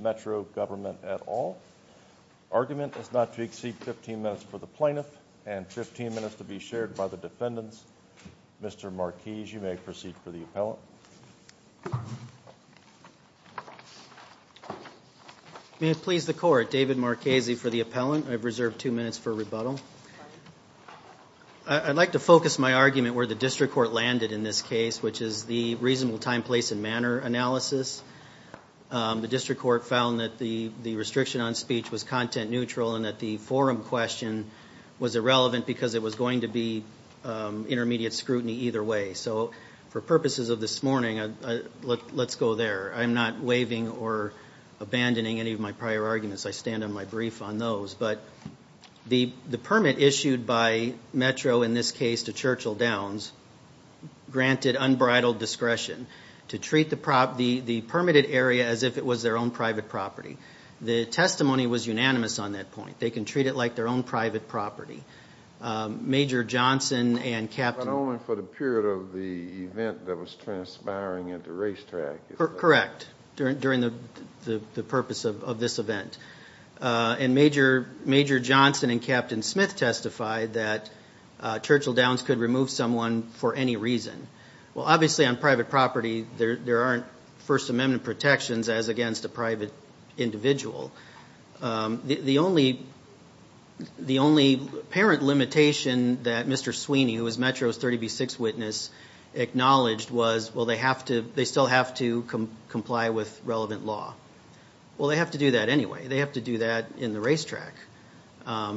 METRO GOVERNMENT AT ALL. ARGUMENT IS NOT TO EXCEED 15 MINUTES FOR THE PLAINTIFF, AND 15 MINUTES TO BE SHARED BY THE DEFENDANTS. MR. MARQUIS, YOU MAY PROCEED FOR THE APPELLANT. I'D LIKE TO FOCUS MY ARGUMENT WHERE THE DISTRICT COURT LANDED IN THIS CASE, WHICH IS THE REASONABLE TIME, PLACE, AND MANNER ANALYSIS. THE DISTRICT COURT FOUND THAT THE RESTRICTION ON SPEECH WAS CONTENT-NEUTRAL AND THAT THE FORUM QUESTION WAS IRRELEVANT BECAUSE IT WAS GOING TO BE INTERMEDIATE SCRUTINY EITHER WAY. FOR PURPOSES OF THIS MORNING, LET'S GO THERE. I'M NOT WAVING OR ABANDONING ANY OF MY PRIOR ARGUMENTS. I STAND ON MY BRIEF ON THOSE. THE PERMIT ISSUED BY METRO IN THIS CASE TO CHURCHILL-DOWNS GRANTED UNBRIDLED DISCRETION TO TREAT THE PERMITTED AREA AS IF IT WAS THEIR OWN PRIVATE PROPERTY. THE TESTIMONY WAS UNANIMOUS ON THAT POINT. THEY CAN TREAT IT LIKE THEIR OWN PRIVATE PROPERTY. MAJOR JOHNSON AND CAPTAIN SMITH TESTIFIED THAT CHURCHILL-DOWNS COULD REMOVE SOMEONE FOR ANY REASON. OBVIOUSLY, ON PRIVATE PROPERTY, THERE AREN'T FIRST AMENDMENT PROTECTIONS AS AGAINST A PRIVATE INDIVIDUAL. THE ONLY PARENT LIMITATION THAT MR. SWEENEY, WHO IS METRO'S 30B6 WITNESS, ACKNOWLEDGED WAS, WELL, THEY STILL HAVE TO COMPLY WITH RELEVANT LAW. WELL, THEY HAVE TO DO THAT ANYWAY. THEY HAVE TO DO THAT IN THE RACETRACK. I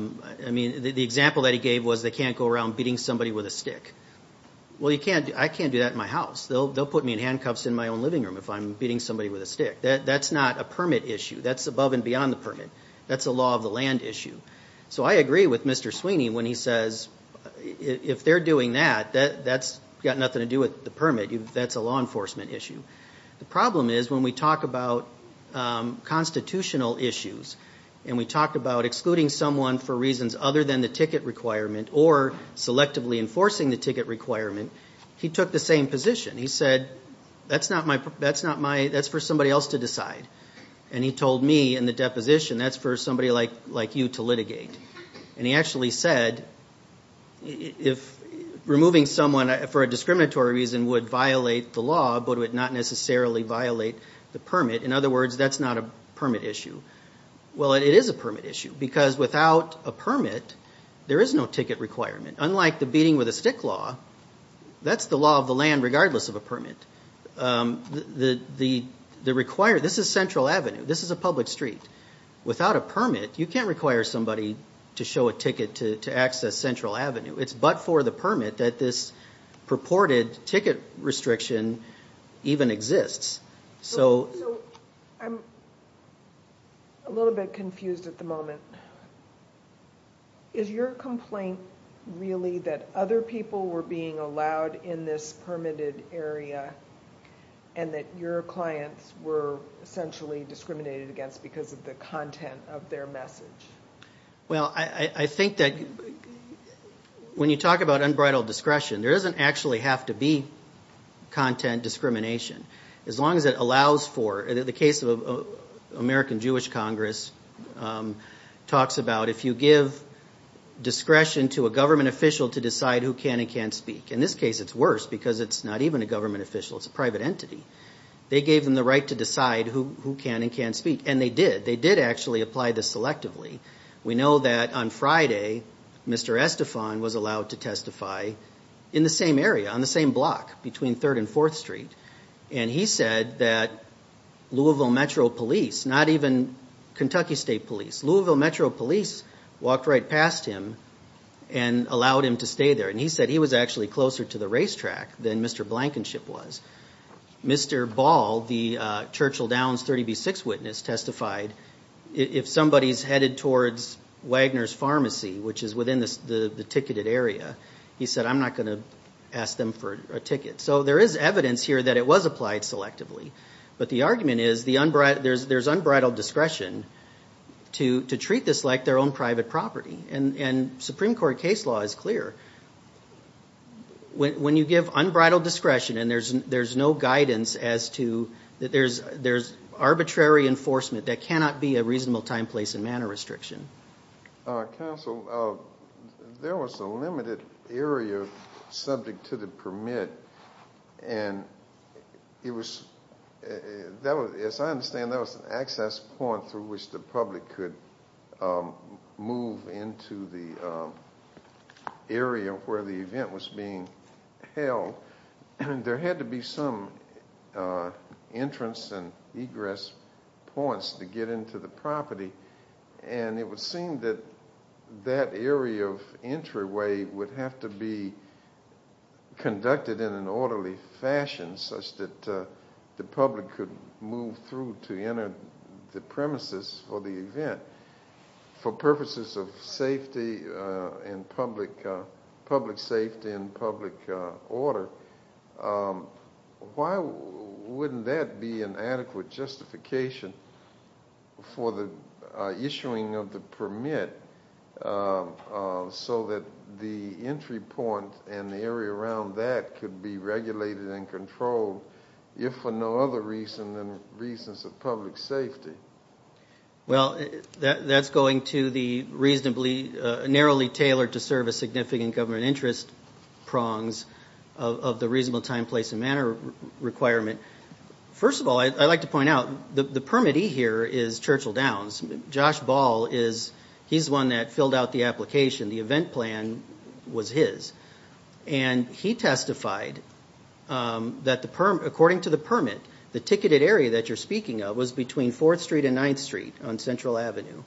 MEAN, THE EXAMPLE THAT HE GAVE WAS THEY CAN'T GO AROUND BEATING SOMEBODY WITH A STICK. WELL, I CAN'T DO THAT IN MY HOUSE. THEY'LL PUT ME IN HANDCUFFS IN MY OWN LIVING ROOM IF I'M BEATING SOMEBODY WITH A STICK. THAT'S NOT A PERMIT ISSUE. THAT'S ABOVE AND BEYOND THE PERMIT. THAT'S A LAW OF THE LAND ISSUE. SO I AGREE WITH MR. SWEENEY WHEN HE SAYS IF THEY'RE DOING THAT, THAT'S GOT NOTHING TO DO WITH THE PERMIT. THAT'S A LAW ENFORCEMENT ISSUE. THE PROBLEM IS WHEN WE TALK ABOUT CONSTITUTIONAL ISSUES AND WE TALK ABOUT EXCLUDING SOMEONE FOR REASONS OTHER THAN THE TICKET REQUIREMENT OR SELECTIVELY ENFORCING THE TICKET REQUIREMENT, HE TOOK THE SAME POSITION. HE SAID, THAT'S FOR SOMEBODY ELSE TO DECIDE. AND HE TOLD ME IN THE DEPOSITION, THAT'S FOR SOMEBODY LIKE YOU TO LITIGATE. AND HE ACTUALLY SAID, IF REMOVING SOMEONE FOR A DISCRIMINATORY REASON WOULD VIOLATE THE LAW, BUT WOULD NOT NECESSARILY VIOLATE THE PERMIT, IN OTHER WORDS, THAT'S NOT A PERMIT ISSUE. WELL, IT IS A PERMIT ISSUE. BECAUSE WITHOUT A PERMIT, THERE IS NO TICKET REQUIREMENT. UNLIKE THE BEATING WITH A STICK LAW, THAT'S THE LAW OF THE LAND REGARDLESS OF A PERMIT. THIS IS CENTRAL AVENUE. THIS IS A PUBLIC STREET. WITHOUT A PERMIT, YOU CAN'T REQUIRE SOMEBODY TO SHOW A TICKET TO ACCESS CENTRAL AVENUE. IT'S BUT FOR THE PERMIT THAT THIS PURPORTED TICKET RESTRICTION EVEN EXISTS. SO I'M A LITTLE BIT CONFUSED AT THE MOMENT. IS YOUR COMPLAINT REALLY THAT OTHER PEOPLE WERE BEING ALLOWED IN THIS PERMITTED AREA AND THAT YOUR CLIENTS WERE ESSENTIALLY DISCRIMINATED AGAINST BECAUSE OF THE CONTENT OF THEIR MESSAGE? I THINK THAT WHEN YOU TALK ABOUT UNBRIDLED DISCRETION, THERE DOESN'T ACTUALLY HAVE TO BE CONTENT DISCRIMINATION. AS LONG AS IT ALLOWS FOR THE CASE OF AMERICAN JEWISH CONGRESS TALKS ABOUT IF YOU GIVE DISCRETION TO A GOVERNMENT OFFICIAL TO DECIDE WHO CAN AND CAN'T SPEAK. IN THIS CASE, IT'S WORSE BECAUSE IT'S NOT EVEN A GOVERNMENT OFFICIAL. IT'S A PRIVATE ENTITY. THEY GAVE THEM THE RIGHT TO DECIDE WHO CAN AND CAN'T SPEAK. AND THEY DID. THEY WERE ALLOWED TO TESTIFY. WE KNOW THAT ON FRIDAY, MR. ESTEFAN WAS ALLOWED TO TESTIFY IN THE SAME AREA, ON THE SAME BLOCK BETWEEN 3RD AND 4TH STREET. AND HE SAID THAT LOUISVILLE METRO POLICE, NOT EVEN KENTUCKY STATE POLICE, LOUISVILLE METRO POLICE WALKED RIGHT PAST HIM AND ALLOWED HIM TO STAY THERE. AND HE SAID HE WAS ACTUALLY CLOSER TO THE RACETRACK THAN MR. BLANKENSHIP WAS. MR. BALL, THE CHURCHILL DOWNS 30B6 WITNESS, TESTIFIED IF SOMEBODY'S HEADED TOWARDS WAGNER'S PHARMACY, WHICH IS WITHIN THE TICKETED AREA, HE SAID I'M NOT GOING TO ASK THEM FOR A TICKET. SO THERE IS EVIDENCE HERE THAT IT WAS APPLIED SELECTIVELY. BUT THE ARGUMENT IS THERE'S UNBRIDLED DISCRETION TO TREAT THIS LIKE THEIR OWN PRIVATE PROPERTY. AND SUPREME COURT CASE LAW IS CLEAR. WHEN YOU GIVE UNBRIDLED DISCRETION AND THERE'S NO GUIDANCE AS TO THERE'S ARBITRARY ENFORCEMENT THAT CANNOT BE A REASONABLE TIME, PLACE, AND MANNER RESTRICTION. COUNSEL, THERE WAS A LIMITED AREA SUBJECT TO THE PERMIT. AND IT WAS, AS I UNDERSTAND IT, AN ACCESS POINT THROUGH WHICH THE PUBLIC COULD MOVE INTO THE AREA WHERE THE EVENT WAS BEING HELD. THERE HAD TO BE SOME ENTRANCE AND EGRESS POINTS TO GET INTO THE PROPERTY. AND IT WAS SEEMED THAT THAT AREA OF ENTRYWAY WOULD HAVE TO BE CONDUCTED IN AN ORDERLY FASHION SUCH THAT THE PUBLIC COULD MOVE THROUGH TO ENTER THE PREMISES FOR THE EVENT. FOR PURPOSES OF SAFETY AND PUBLIC SAFETY AND PUBLIC ORDER, WHY WOULDN'T THAT BE AN ADEQUATE JUSTIFICATION FOR THE ISSUING OF THE PERMIT SO THAT THE ENTRY POINT AND THE AREA AROUND THAT COULD BE REGULATED AND CONTROLLED IF FOR NO OTHER REASON THAN REASONS OF PUBLIC SAFETY? Well, that's going to the reasonably, narrowly tailored to serve a significant government interest prongs of the reasonable time, place, and manner requirement. First of all, I'd like to point out, the permittee here is Churchill Downs. Josh Ball is, he's the one that filled out the application. The event plan was his. And he testified that according to the permit, the ticketed area that you're speaking of was between 4th Street and 9th Street on Central Avenue.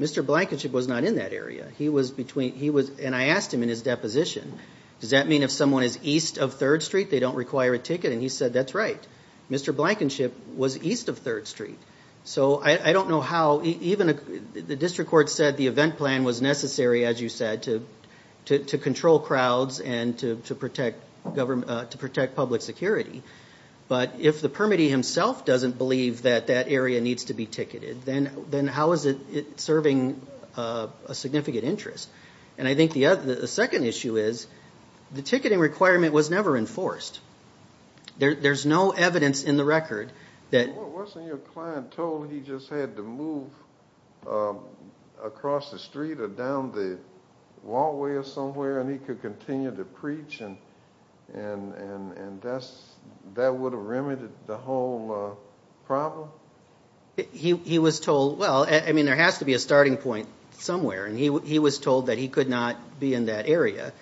Mr. Blankenship was not in that area. He was between, he was, and I asked him in his deposition, does that mean if someone is east of 3rd Street, they don't require a ticket? And he said, that's right. Mr. Blankenship was east of 3rd Street. So I don't know how, even the district court said the event plan was necessary, as you said, to control crowds and to protect government, to protect public security. But if the permittee himself doesn't believe that that area needs to be ticketed, then how is it serving a significant interest? And I think the second issue is, the ticketing requirement was never enforced. There's no evidence in the record that... Wasn't your client told he just had to move across the street or down the walkway or somewhere and he could continue to preach and that would have remedied the whole problem? He was told, well, I mean, there has to be a starting point somewhere. And he was told that he could not be in that area.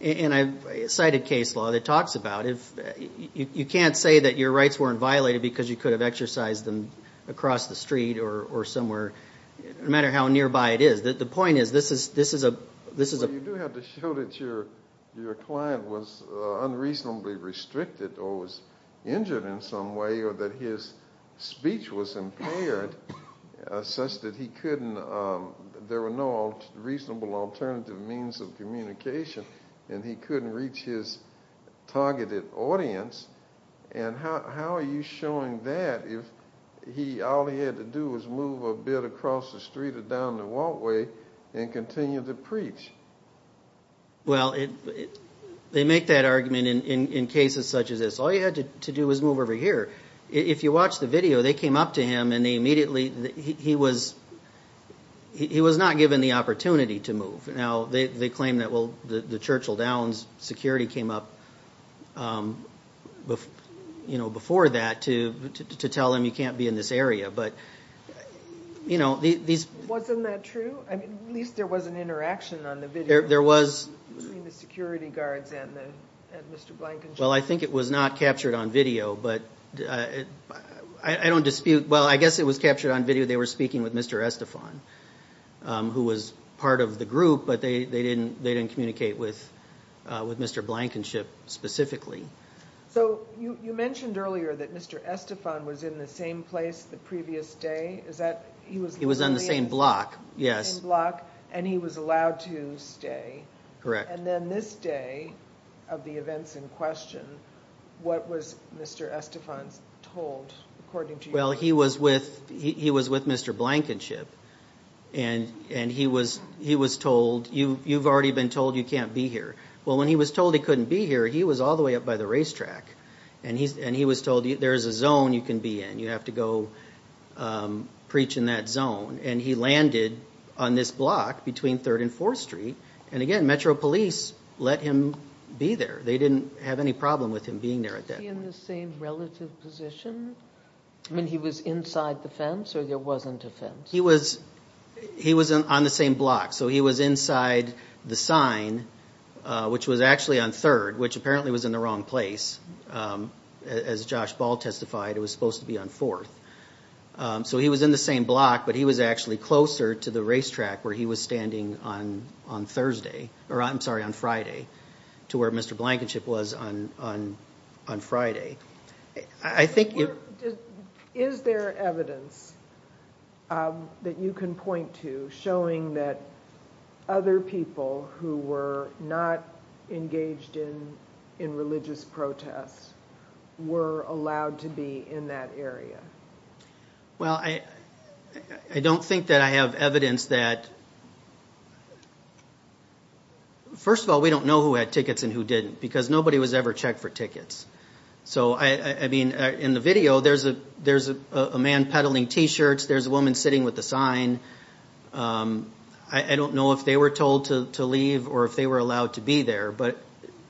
And I cited case law that talks about, you can't say that your rights weren't violated because you could have exercised them across the street or somewhere, no matter how nearby it is. The point is, this is a... Well, you do have to show that your client was unreasonably restricted or was injured in some way or that his speech was impaired such that he couldn't, there were no reasonable alternative means of communication and he couldn't reach his targeted audience. And how are you showing that if all he had to do was move a bit across the street or down the walkway and continue to preach? Well, they make that argument in cases such as this. All you had to do was move over here. If you watch the video, they came up to him and they immediately, he was not given the opportunity to move. Now, they claim that, well, the Churchill Downs security came up before that to tell him, you can't be in this area. But these... Wasn't that true? I mean, at least there was an interaction on the video. There was. Between the security guards and Mr. Blankenship. Well, I think it was not captured on video, but I don't dispute, well, I guess it was captured on video. They were speaking with Mr. Estefan, who was part of the group, but they didn't communicate with Mr. Blankenship specifically. So, you mentioned earlier that Mr. Estefan was in the same place the previous day? He was on the same block, yes. And he was allowed to stay. Correct. And then this day, of the events in question, what was Mr. Estefan told, according to you? Well, he was with Mr. Blankenship and he was told, you've already been told you can't be here. Well, when he was told he couldn't be here, he was all the way up by the racetrack and he was told, there's a zone you can be in. You have to go preach in that zone. And he landed on this block between 3rd and 4th Street. And again, Metro Police let him be there. They didn't have any problem with him being there at that point. Was he in the same relative position? I mean, he was inside the fence or there wasn't a fence? He was on the same block. So he was inside the sign, which was actually on 3rd, which apparently was in the wrong place. As Josh Ball testified, it was supposed to be on 4th. So he was in the same block, but he was actually closer to the racetrack where he was standing on Thursday, or I'm sorry, on Friday, to where Mr. Blankenship was on Friday. Is there evidence that you can point to showing that other people who were not engaged in religious protests were allowed to be in that area? Well, I don't think that I have evidence that – first of all, we don't know who had checked for tickets. So, I mean, in the video, there's a man peddling T-shirts, there's a woman sitting with a sign. I don't know if they were told to leave or if they were allowed to be there, but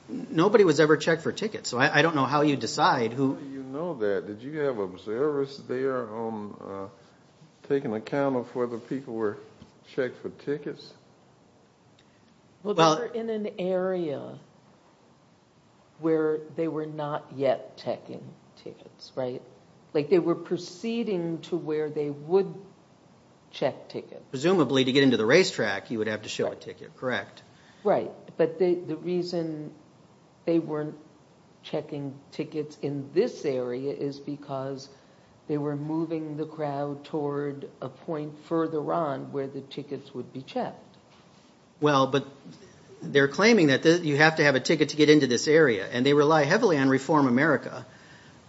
nobody was ever checked for tickets. So I don't know how you decide who – How do you know that? Did you have observers there taking account of whether people were checked for tickets? Well, they were in an area where they were not yet checking tickets, right? Like, they were proceeding to where they would check tickets. Presumably, to get into the racetrack, you would have to show a ticket, correct? Right. But the reason they weren't checking tickets in this area is because they were Well, but they're claiming that you have to have a ticket to get into this area, and they rely heavily on Reform America.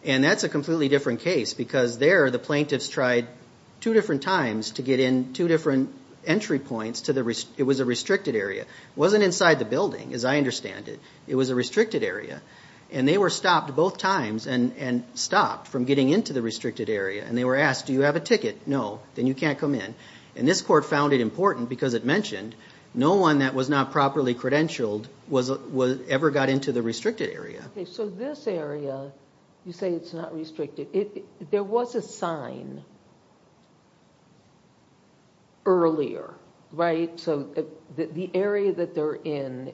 And that's a completely different case, because there the plaintiffs tried two different times to get in two different entry points to the – it was a restricted area. It wasn't inside the building, as I understand it. It was a restricted area. And they were stopped both times and stopped from getting into the restricted area. And they were asked, do you have a ticket? No. Then you can't come in. And this court found it important because it mentioned no one that was not properly credentialed ever got into the restricted area. So this area, you say it's not restricted. There was a sign earlier, right? So the area that they're in,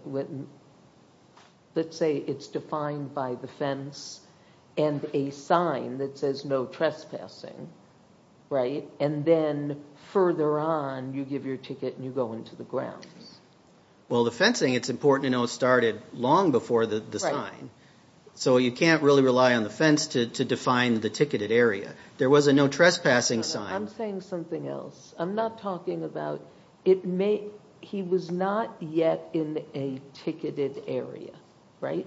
let's say it's defined by the fence and a sign that says no trespassing, right? And then further on, you give your ticket and you go into the grounds. Well, the fencing, it's important to know, started long before the sign. So you can't really rely on the fence to define the ticketed area. There was a no trespassing sign. I'm saying something else. I'm not talking about – it may – he was not yet in a ticketed area, right?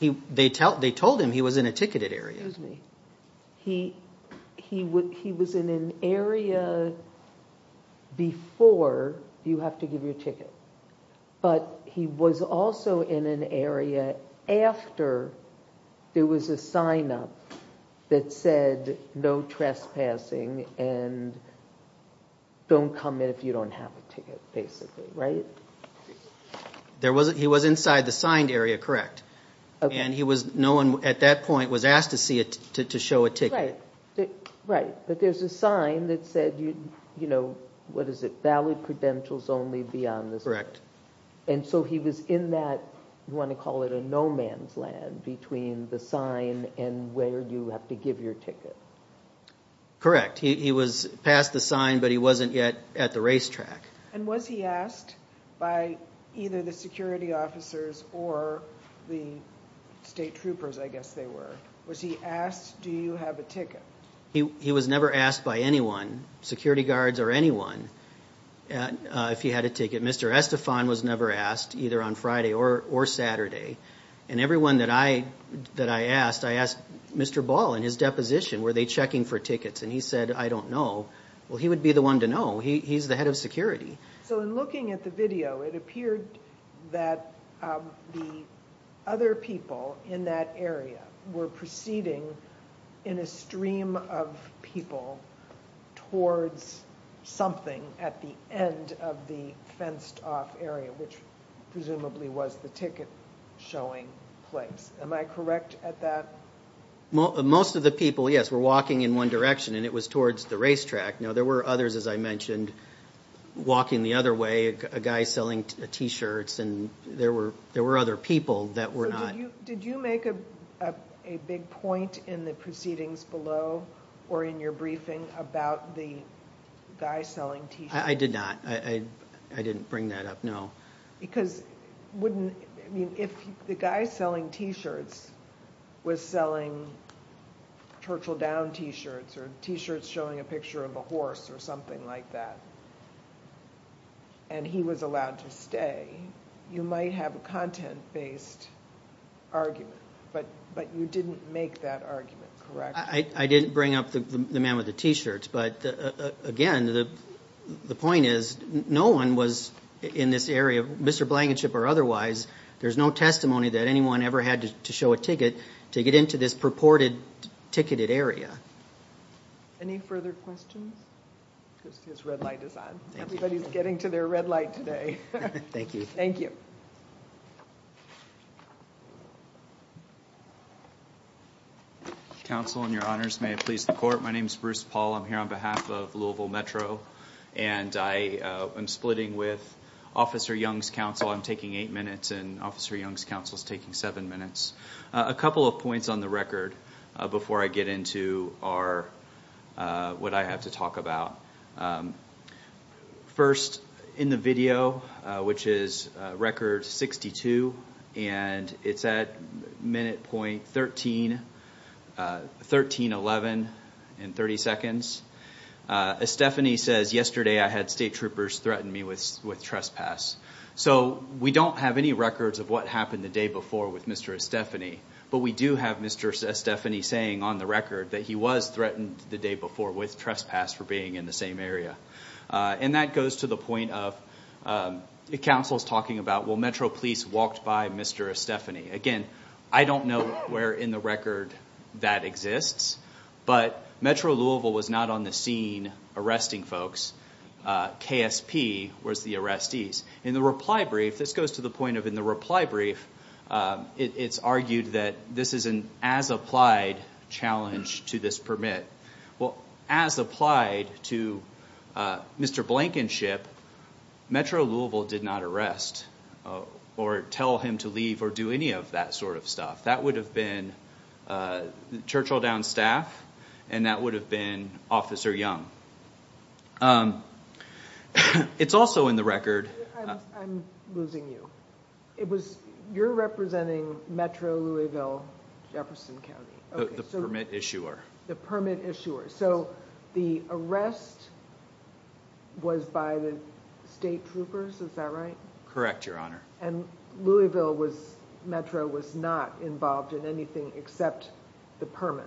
They told him he was in a ticketed area. Excuse me. He was in an area before you have to give your ticket. But he was also in an area after there was a sign up that said no trespassing and don't come in if you don't have a ticket, basically, right? He was inside the signed area, correct. And no one at that point was asked to see it to show a ticket. Right. But there's a sign that said, what is it, valid credentials only beyond this Correct. And so he was in that, you want to call it a no man's land, between the sign and where you have to give your ticket. Correct. He was past the sign, but he wasn't yet at the racetrack. And was he asked by either the security officers or the state troopers, I guess they were. Was he asked, do you have a ticket? He was never asked by anyone, security guards or anyone, if he had a ticket. Mr. Estefan was never asked, either on Friday or Saturday. And everyone that I asked, I asked Mr. Ball in his deposition, were they checking for tickets? And he said, I don't know. Well, he would be the one to know. He's the head of security. So in looking at the video, it appeared that the other people in that area were proceeding in a stream of people towards something at the end of the fenced off area, which presumably was the ticket showing place. Am I correct at that? Most of the people, yes, were walking in one direction and it was towards the racetrack. Now, there were others, as I mentioned, walking the other way, a guy selling T-shirts and there were other people that were not. So did you make a big point in the proceedings below or in your briefing about the guy selling T-shirts? I did not. I didn't bring that up, no. Because wouldn't, I mean, if the guy selling T-shirts was selling Churchill Down T-shirts or T-shirts showing a picture of a horse or something like that and he was allowed to stay, you might have a content-based argument, but you didn't make that argument, correct? I didn't bring up the man with the T-shirts, but again, the point is no one was in this area, Mr. Blankenship or otherwise, there's no testimony that anyone ever had to show a ticket to get into this purported ticketed area. Any further questions? Because his red light is on. Everybody's getting to their red light today. Thank you. Thank you. Counsel and your honors, may it please the court, my name is Bruce Paul. I'm here on behalf of Louisville Metro and I am splitting with Officer Young's counsel. I'm taking eight minutes and Officer Young's counsel is taking seven minutes. A couple of points on the record before I get into what I have to talk about. First, in the video, which is record 62, and it's at minute point 1311 and 30 seconds, Estefany says, yesterday I had state troopers threaten me with trespass. We don't have any records of what happened the day before with Mr. Estefany, but we do have Mr. Estefany saying on the record that he was threatened the day before with trespass for being in the same area. That goes to the point of the counsel's talking about, well, Metro police walked by Mr. Estefany. Again, I don't know where in the record that exists, but Metro Louisville was not on the scene arresting folks. KSP was the arrestees. In the reply brief, this goes to the point of in the reply brief, it's argued that this is an as-applied challenge to this permit. Well, as applied to Mr. Blankenship, Metro Louisville did not arrest or tell him to leave or do any of that sort of stuff. That would have been Churchill Downs staff, and that would have been Officer Young. It's also in the record. I'm losing you. You're representing Metro Louisville, Jefferson County. The permit issuer. The permit issuer. The arrest was by the state troopers, is that right? Correct, Your Honor. Louisville Metro was not involved in anything except the permit.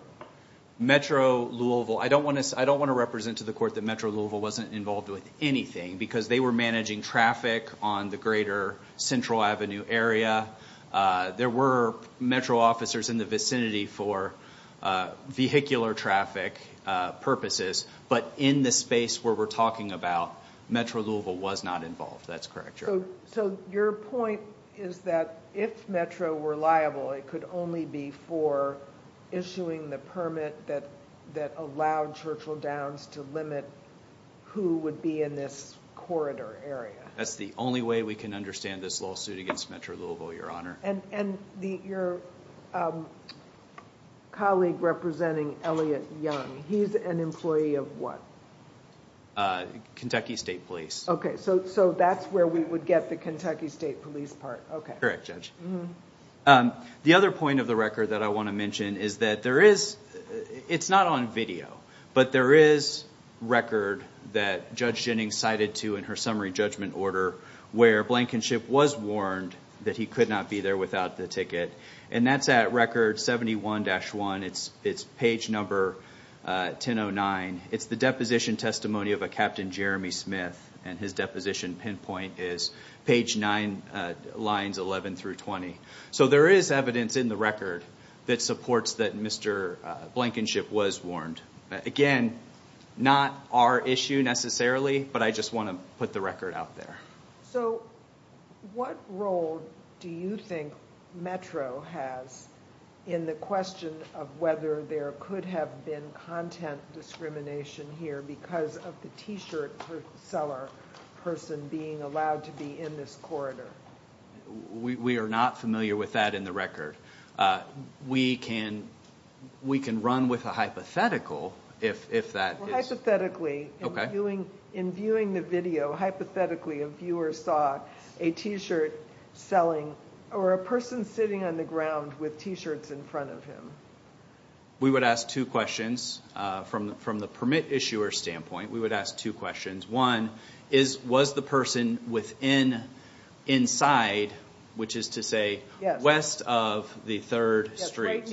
Metro Louisville. I don't want to represent to the court that Metro Louisville wasn't involved with anything because they were managing traffic on the greater Central Avenue area. There were Metro officers in the vicinity for vehicular traffic purposes, but in the space where we're talking about, Metro Louisville was not involved. That's correct, Your Honor. Your point is that if Metro were liable, it could only be for issuing the permit that allowed Churchill Downs to limit who would be in this corridor area. That's the only way we can understand this lawsuit against Metro Louisville, Your Honor. Your colleague representing Elliot Young, he's an employee of what? Kentucky State Police. That's where we would get the Kentucky State Police part. Correct, Judge. The other point of the record that I want to mention is that there is, it's not on video, but there is record that Judge Jennings cited to in her summary judgment order where Blankenship was warned that he could not be there without the ticket. That's at record 71-1. It's page number 1009. It's the deposition testimony of a Captain Jeremy Smith, and his deposition pinpoint is page 9, lines 11 through 20. So there is evidence in the record that supports that Mr. Blankenship was warned. Again, not our issue necessarily, but I just want to put the record out there. So what role do you think Metro has in the question of whether there could have been content discrimination here because of the T-shirt seller person being allowed to be in this corridor? We are not familiar with that in the record. We can run with a hypothetical if that is. Hypothetically, in viewing the video, hypothetically, a viewer saw a T-shirt selling or a person sitting on the ground with T-shirts in front of him. We would ask two questions. From the permit issuer standpoint, we would ask two questions. One, was the person within, inside, which is to say west of the third street.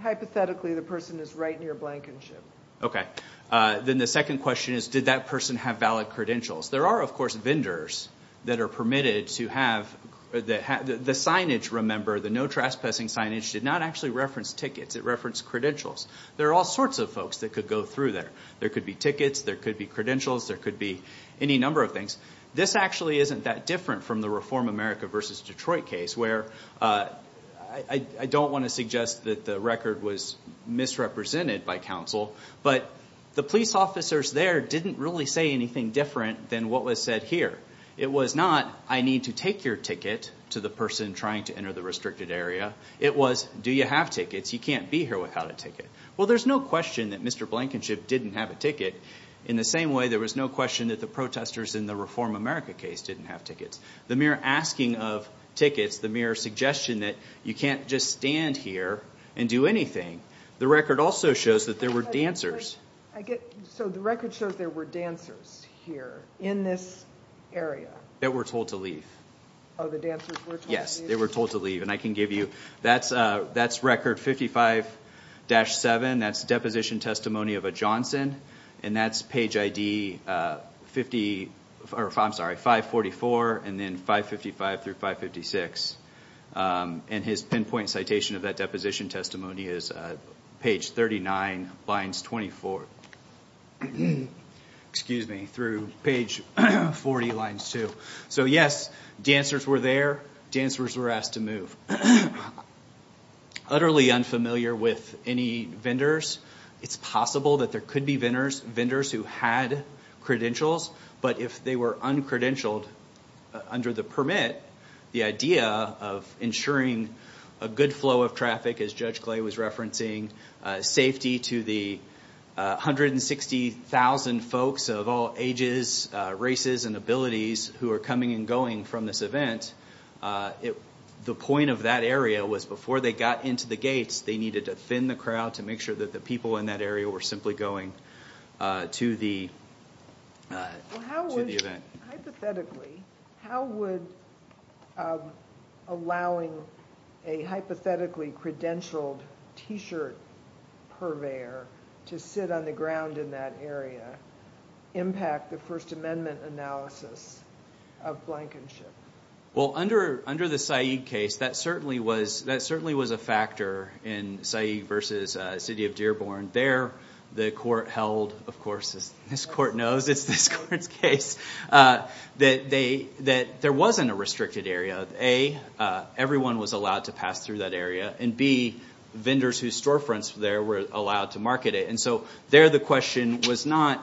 Hypothetically, the person is right near Blankenship. Okay. Then the second question is, did that person have valid credentials? There are, of course, vendors that are permitted to have the signage. Remember, the no trespassing signage did not actually reference tickets. It referenced credentials. There are all sorts of folks that could go through there. There could be tickets. There could be credentials. There could be any number of things. This actually isn't that different from the Reform America v. Detroit case, where I don't want to suggest that the record was misrepresented by counsel, but the police officers there didn't really say anything different than what was said here. It was not, I need to take your ticket, to the person trying to enter the restricted area. It was, do you have tickets? You can't be here without a ticket. Well, there's no question that Mr. Blankenship didn't have a ticket. In the same way, there was no question that the protesters in the Reform America case didn't have tickets. The mere asking of tickets, the mere suggestion that you can't just stand here and do anything. The record also shows that there were dancers. So the record shows there were dancers here in this area. That were told to leave. Oh, the dancers were told to leave? Yes, they were told to leave. And I can give you, that's record 55-7. That's deposition testimony of a Johnson. And that's page ID 50, I'm sorry, 544, and then 555 through 556. And his pinpoint citation of that deposition testimony is page 39, lines 24. Excuse me, through page 40, lines 2. So yes, dancers were there. Dancers were asked to move. Utterly unfamiliar with any vendors. It's possible that there could be vendors who had credentials. But if they were uncredentialed under the permit, the idea of ensuring a good flow of traffic, as Judge Clay was referencing, safety to the 160,000 folks of all ages, races, and abilities who are coming and going from this event. The point of that area was before they got into the gates, they needed to thin the crowd to make sure that the people in that area were simply going to the event. Well, hypothetically, how would allowing a hypothetically credentialed T-shirt purveyor to sit on the ground in that area impact the First Amendment analysis of Blankenship? Well, under the Saeed case, that certainly was a factor in Saeed versus City of Dearborn. There the court held, of course, as this court knows, it's this court's case, that there wasn't a restricted area. A, everyone was allowed to pass through that area. And B, vendors whose storefronts there were allowed to market it. And so there the question was not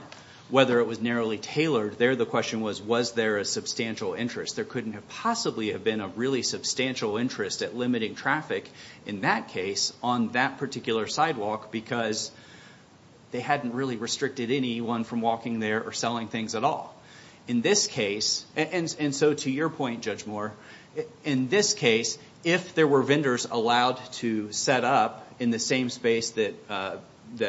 whether it was narrowly tailored. There the question was, was there a substantial interest? There couldn't have possibly have been a really substantial interest at limiting traffic in that case on that particular sidewalk because they hadn't really restricted anyone from walking there or selling things at all. In this case, and so to your point, Judge Moore, in this case, if there were vendors allowed to set up in the same space that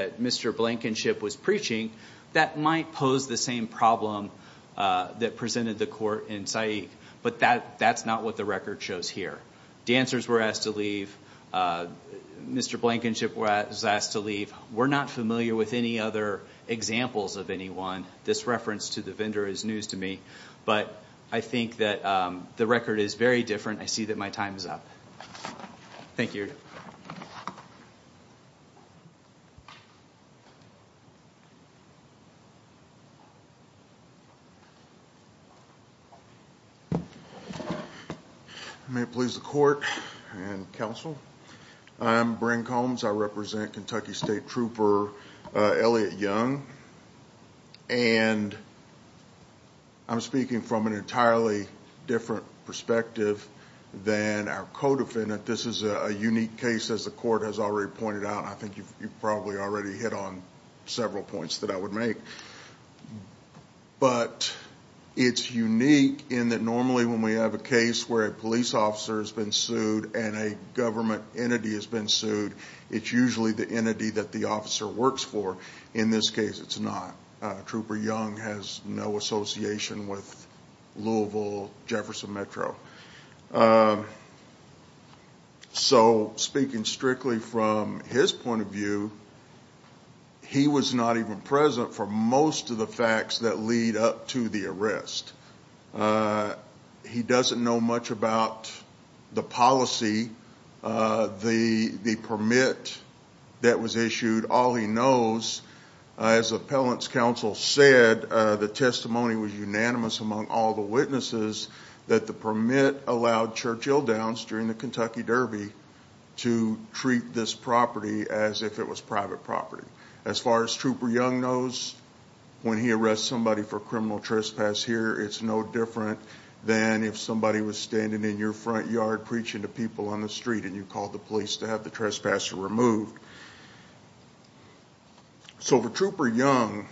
Mr. Blankenship was preaching, that might pose the same problem that presented the court in Saeed. But that's not what the record shows here. Dancers were asked to leave. Mr. Blankenship was asked to leave. We're not familiar with any other examples of anyone. This reference to the vendor is news to me. But I think that the record is very different. I see that my time is up. Thank you. May it please the court and counsel. I'm Brent Combs. I represent Kentucky State Trooper Elliot Young. And I'm speaking from an entirely different perspective than our co-defendant. This is a unique case, as the court has already pointed out. I think you've probably already hit on several points that I would make. But it's unique in that normally when we have a case where a police officer has been sued and a government entity has been sued, it's usually the entity that the officer works for. In this case, it's not. Trooper Young has no association with Louisville, Jefferson Metro. So speaking strictly from his point of view, he was not even present for most of the facts that lead up to the arrest. He doesn't know much about the policy, the permit that was issued. All he knows, as appellant's counsel said, the testimony was unanimous among all the witnesses that the permit allowed Churchill Downs during the Kentucky Derby to treat this property as if it was private property. As far as Trooper Young knows, when he arrests somebody for criminal trespass here, it's no different than if somebody was standing in your front yard preaching to people on the street and you called the police to have the trespasser removed. So for Trooper Young,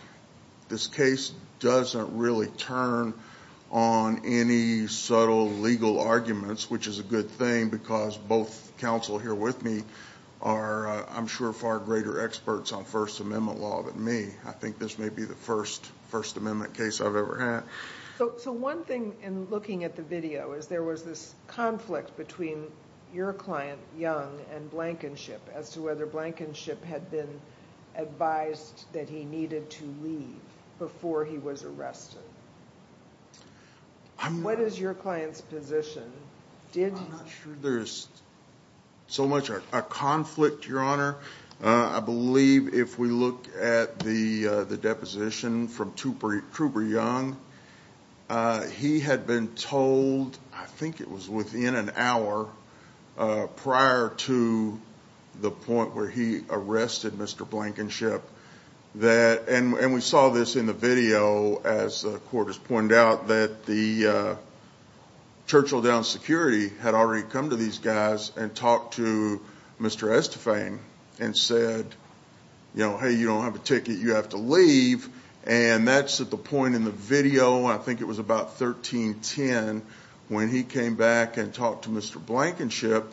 this case doesn't really turn on any subtle legal arguments, which is a good thing because both counsel here with me are, I'm sure, far greater experts on First Amendment law than me. I think this may be the first First Amendment case I've ever had. So one thing in looking at the video is there was this conflict between your client, Young, and Blankenship as to whether Blankenship had been advised that he needed to leave before he was arrested. What is your client's position? I'm not sure there's so much of a conflict, Your Honor. I believe if we look at the deposition from Trooper Young, he had been told, I think it was within an hour, prior to the point where he arrested Mr. Blankenship, and we saw this in the video as the court has pointed out, that the Churchill Downs security had already come to these guys and talked to Mr. Estefan and said, you know, hey, you don't have a ticket, you have to leave, and that's at the point in the video, I think it was about 1310, when he came back and talked to Mr. Blankenship,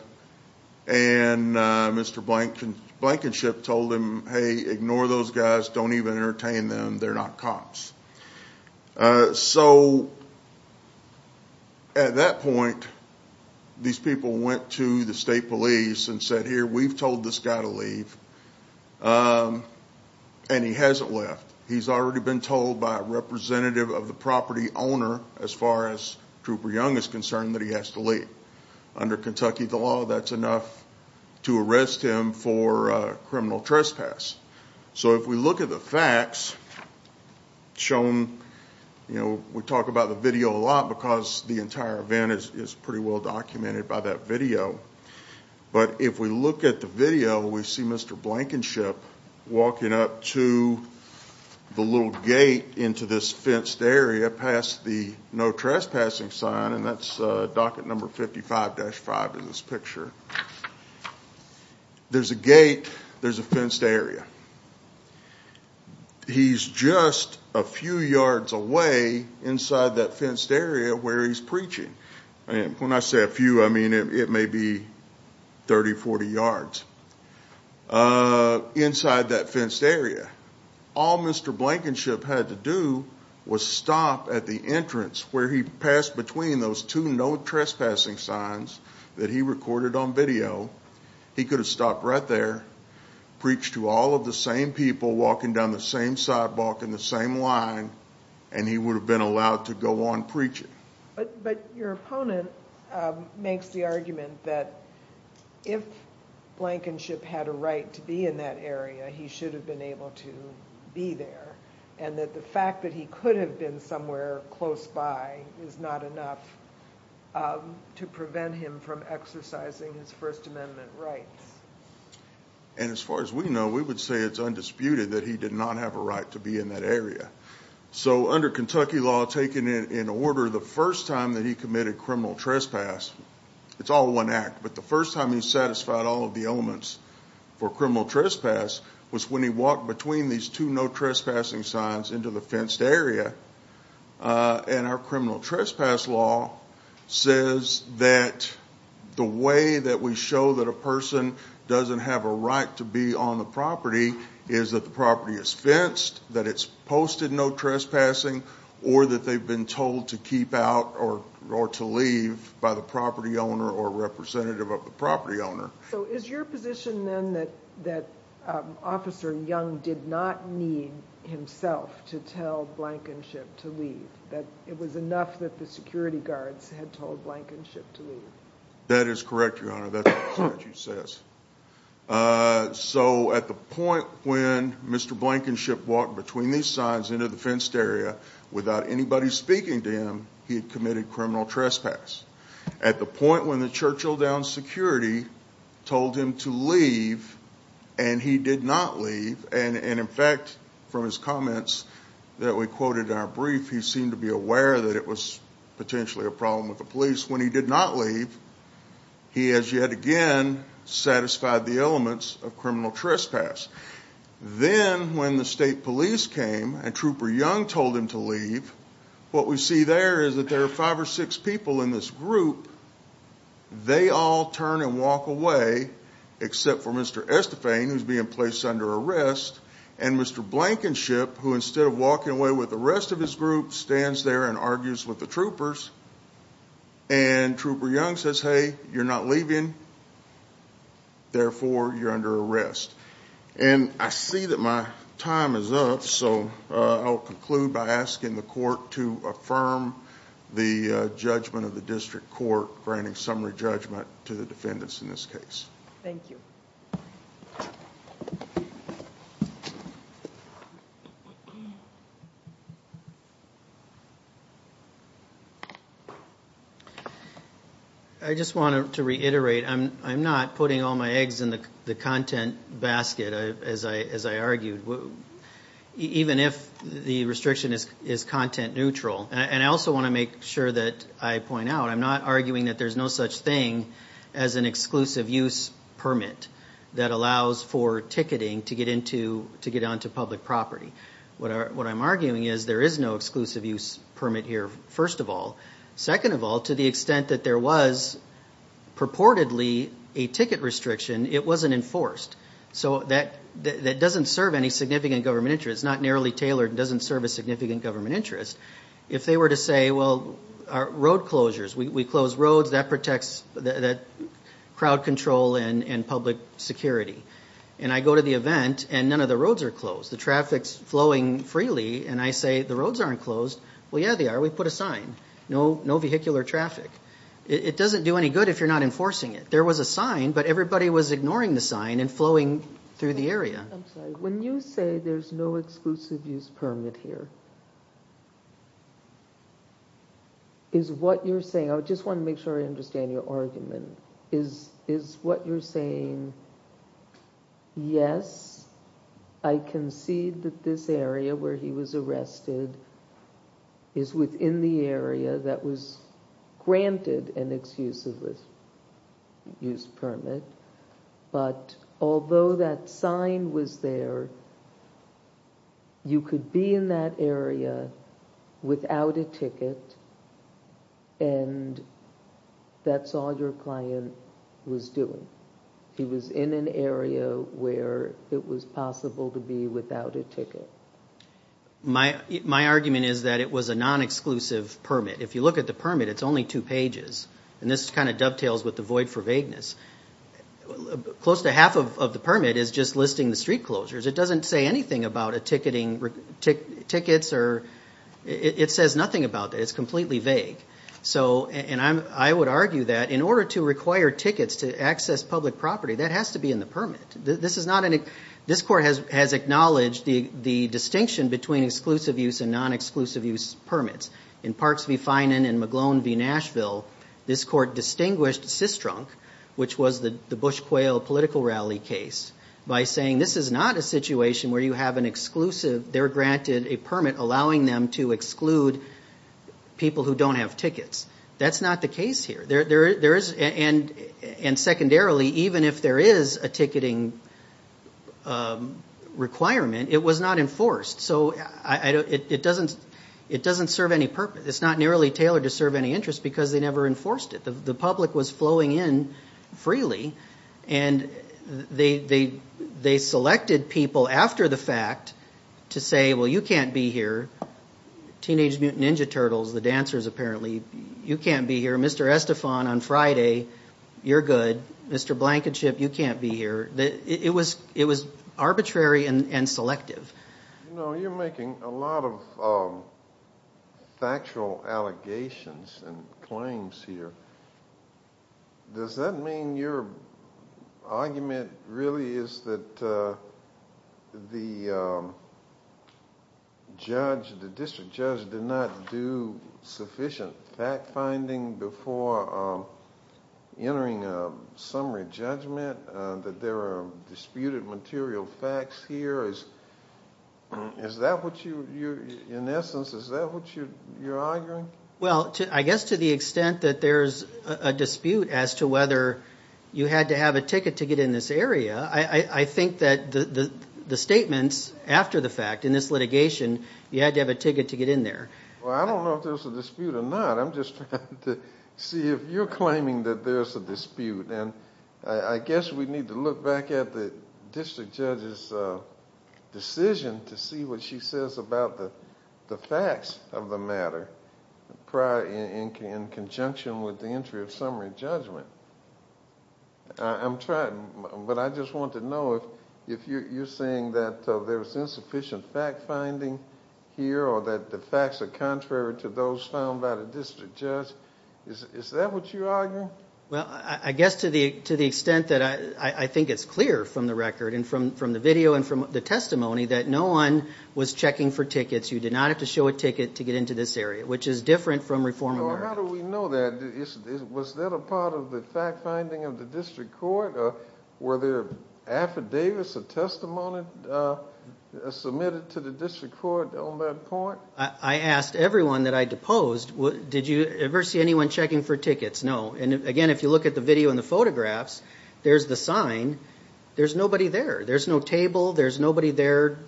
and Mr. Blankenship told him, hey, ignore those guys, don't even entertain them, they're not cops. So at that point, these people went to the state police and said, here, we've told this guy to leave, and he hasn't left. He's already been told by a representative of the property owner, as far as Trooper Young is concerned, that he has to leave. Under Kentucky law, that's enough to arrest him for criminal trespass. So if we look at the facts shown, you know, we talk about the video a lot because the entire event is pretty well documented by that video, but if we look at the video, we see Mr. Blankenship walking up to the little gate into this fenced area past the no trespassing sign, and that's docket number 55-5 in this picture. There's a gate, there's a fenced area. He's just a few yards away inside that fenced area where he's preaching. When I say a few, I mean it may be 30, 40 yards inside that fenced area. All Mr. Blankenship had to do was stop at the entrance where he passed between those two no trespassing signs that he recorded on video. He could have stopped right there, preached to all of the same people walking down the same sidewalk in the same line, and he would have been allowed to go on preaching. But your opponent makes the argument that if Blankenship had a right to be in that area, he should have been able to be there, and that the fact that he could have been somewhere close by is not enough to prevent him from exercising his First Amendment rights. As far as we know, we would say it's undisputed that he did not have a right to be in that area. So under Kentucky law taken in order, the first time that he committed criminal trespass, it's all one act, but the first time he satisfied all of the elements for criminal trespass was when he walked between these two no trespassing signs into the fenced area. And our criminal trespass law says that the way that we show that a person doesn't have a right to be on the property is that the property is fenced, that it's posted no trespassing, or that they've been told to keep out or to leave by the property owner or representative of the property owner. So is your position then that Officer Young did not need himself to tell Blankenship to leave, that it was enough that the security guards had told Blankenship to leave? That is correct, Your Honor. That's what the statute says. So at the point when Mr. Blankenship walked between these signs into the fenced area without anybody speaking to him, he had committed criminal trespass. At the point when the Churchill Downs security told him to leave and he did not leave, and in fact from his comments that we quoted in our brief, he seemed to be aware that it was potentially a problem with the police. When he did not leave, he has yet again satisfied the elements of criminal trespass. Then when the state police came and Trooper Young told him to leave, what we see there is that there are five or six people in this group. They all turn and walk away except for Mr. Estefane, who's being placed under arrest, and Mr. Blankenship, who instead of walking away with the rest of his group, stands there and argues with the troopers. And Trooper Young says, hey, you're not leaving, therefore you're under arrest. And I see that my time is up, so I'll conclude by asking the court to affirm the judgment of the district court granting summary judgment to the defendants in this case. Thank you. I just wanted to reiterate. I'm not putting all my eggs in the content basket, as I argued, even if the restriction is content neutral. And I also want to make sure that I point out I'm not arguing that there's no such thing as an exclusive use permit that allows for ticketing to get onto public property. What I'm arguing is there is no exclusive use permit here, first of all. Second of all, to the extent that there was purportedly a ticket restriction, it wasn't enforced. So that doesn't serve any significant government interest. It's not narrowly tailored. It doesn't serve a significant government interest. If they were to say, well, road closures, we close roads. That protects that crowd control and public security. And I go to the event, and none of the roads are closed. The traffic's flowing freely, and I say the roads aren't closed. Well, yeah, they are. We put a sign, no vehicular traffic. It doesn't do any good if you're not enforcing it. There was a sign, but everybody was ignoring the sign and flowing through the area. I'm sorry. When you say there's no exclusive use permit here, is what you're saying— I just want to make sure I understand your argument. Is what you're saying, yes, I concede that this area where he was arrested is within the area that was granted an exclusive use permit, but although that sign was there, you could be in that area without a ticket, and that's all your client was doing. He was in an area where it was possible to be without a ticket. My argument is that it was a non-exclusive permit. If you look at the permit, it's only two pages, and this kind of dovetails with the void for vagueness. Close to half of the permit is just listing the street closures. It doesn't say anything about tickets. It says nothing about that. It's completely vague, and I would argue that in order to require tickets to access public property, that has to be in the permit. This court has acknowledged the distinction between exclusive use and non-exclusive use permits. In Parks v. Finan and McGlone v. Nashville, this court distinguished Cistrunk, which was the Bush-Quayle political rally case, by saying this is not a situation where you have an exclusive— they're granted a permit allowing them to exclude people who don't have tickets. That's not the case here. And secondarily, even if there is a ticketing requirement, it was not enforced. So it doesn't serve any purpose. It's not nearly tailored to serve any interest because they never enforced it. The public was flowing in freely, and they selected people after the fact to say, well, you can't be here. Teenage Mutant Ninja Turtles, the dancers apparently, you can't be here. Mr. Estefan on Friday, you're good. Mr. Blankenship, you can't be here. It was arbitrary and selective. You're making a lot of factual allegations and claims here. Does that mean your argument really is that the district judge did not do sufficient fact-finding before entering a summary judgment, that there are disputed material facts here? Is that what you're—in essence, is that what you're arguing? Well, I guess to the extent that there's a dispute as to whether you had to have a ticket to get in this area, I think that the statements after the fact in this litigation, you had to have a ticket to get in there. Well, I don't know if there's a dispute or not. I'm just trying to see if you're claiming that there's a dispute. I guess we need to look back at the district judge's decision to see what she says about the facts of the matter in conjunction with the entry of summary judgment. I'm trying, but I just want to know if you're saying that there was insufficient fact-finding here or that the facts are contrary to those found by the district judge. Is that what you're arguing? Well, I guess to the extent that I think it's clear from the record and from the video and from the testimony that no one was checking for tickets. You did not have to show a ticket to get into this area, which is different from reforming the record. Well, how do we know that? Was that a part of the fact-finding of the district court? Were there affidavits of testimony submitted to the district court on that point? I asked everyone that I deposed, did you ever see anyone checking for tickets? No. Again, if you look at the video and the photographs, there's the sign. There's nobody there. There's no table. There's nobody there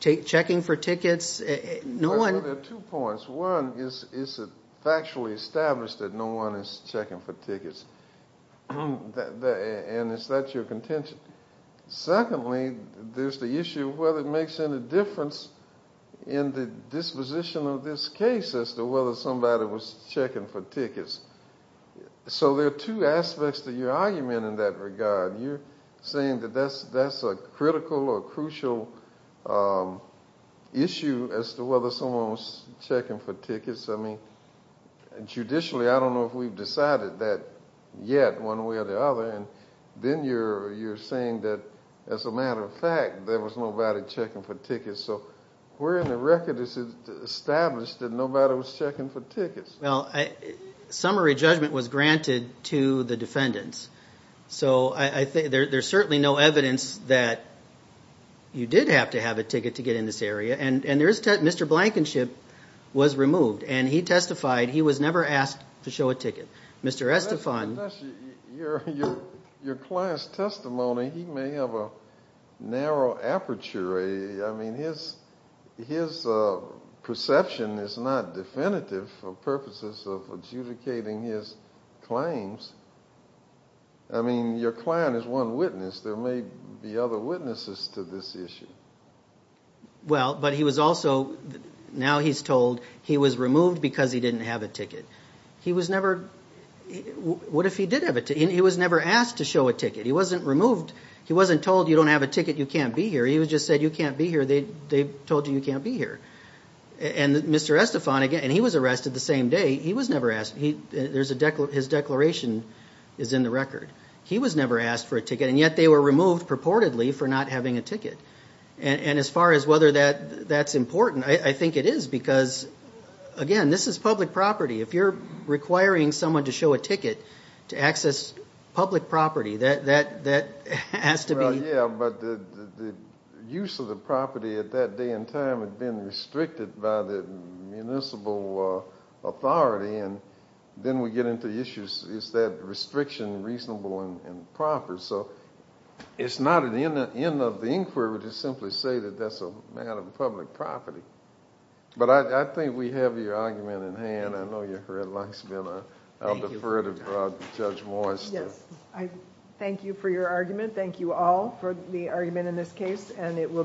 checking for tickets. There are two points. One is it factually established that no one is checking for tickets, and is that your contention? Secondly, there's the issue of whether it makes any difference in the disposition of this case as to whether somebody was checking for tickets. So there are two aspects to your argument in that regard. You're saying that that's a critical or crucial issue as to whether someone was checking for tickets. I mean, judicially, I don't know if we've decided that yet one way or the other. Then you're saying that, as a matter of fact, there was nobody checking for tickets. So where in the record is it established that nobody was checking for tickets? Well, summary judgment was granted to the defendants. So there's certainly no evidence that you did have to have a ticket to get in this area. And Mr. Blankenship was removed, and he testified he was never asked to show a ticket. Your client's testimony, he may have a narrow aperture. I mean, his perception is not definitive for purposes of adjudicating his claims. I mean, your client is one witness. There may be other witnesses to this issue. Well, but he was also, now he's told he was removed because he didn't have a ticket. He was never, what if he did have a ticket? He was never asked to show a ticket. He wasn't removed. He wasn't told, you don't have a ticket, you can't be here. He was just said, you can't be here. They told you you can't be here. And Mr. Estefan, again, and he was arrested the same day. He was never asked. His declaration is in the record. He was never asked for a ticket, and yet they were removed purportedly for not having a ticket. And as far as whether that's important, I think it is because, again, this is public property. If you're requiring someone to show a ticket to access public property, that has to be. Yeah, but the use of the property at that day and time had been restricted by the municipal authority, and then we get into the issues, is that restriction reasonable and proper? So it's not an end of the inquiry to simply say that that's a matter of public property. But I think we have your argument in hand. I know your red light's been on. I'll defer to Judge Moyes. Yes, I thank you for your argument. Thank you all for the argument in this case, and it will be submitted.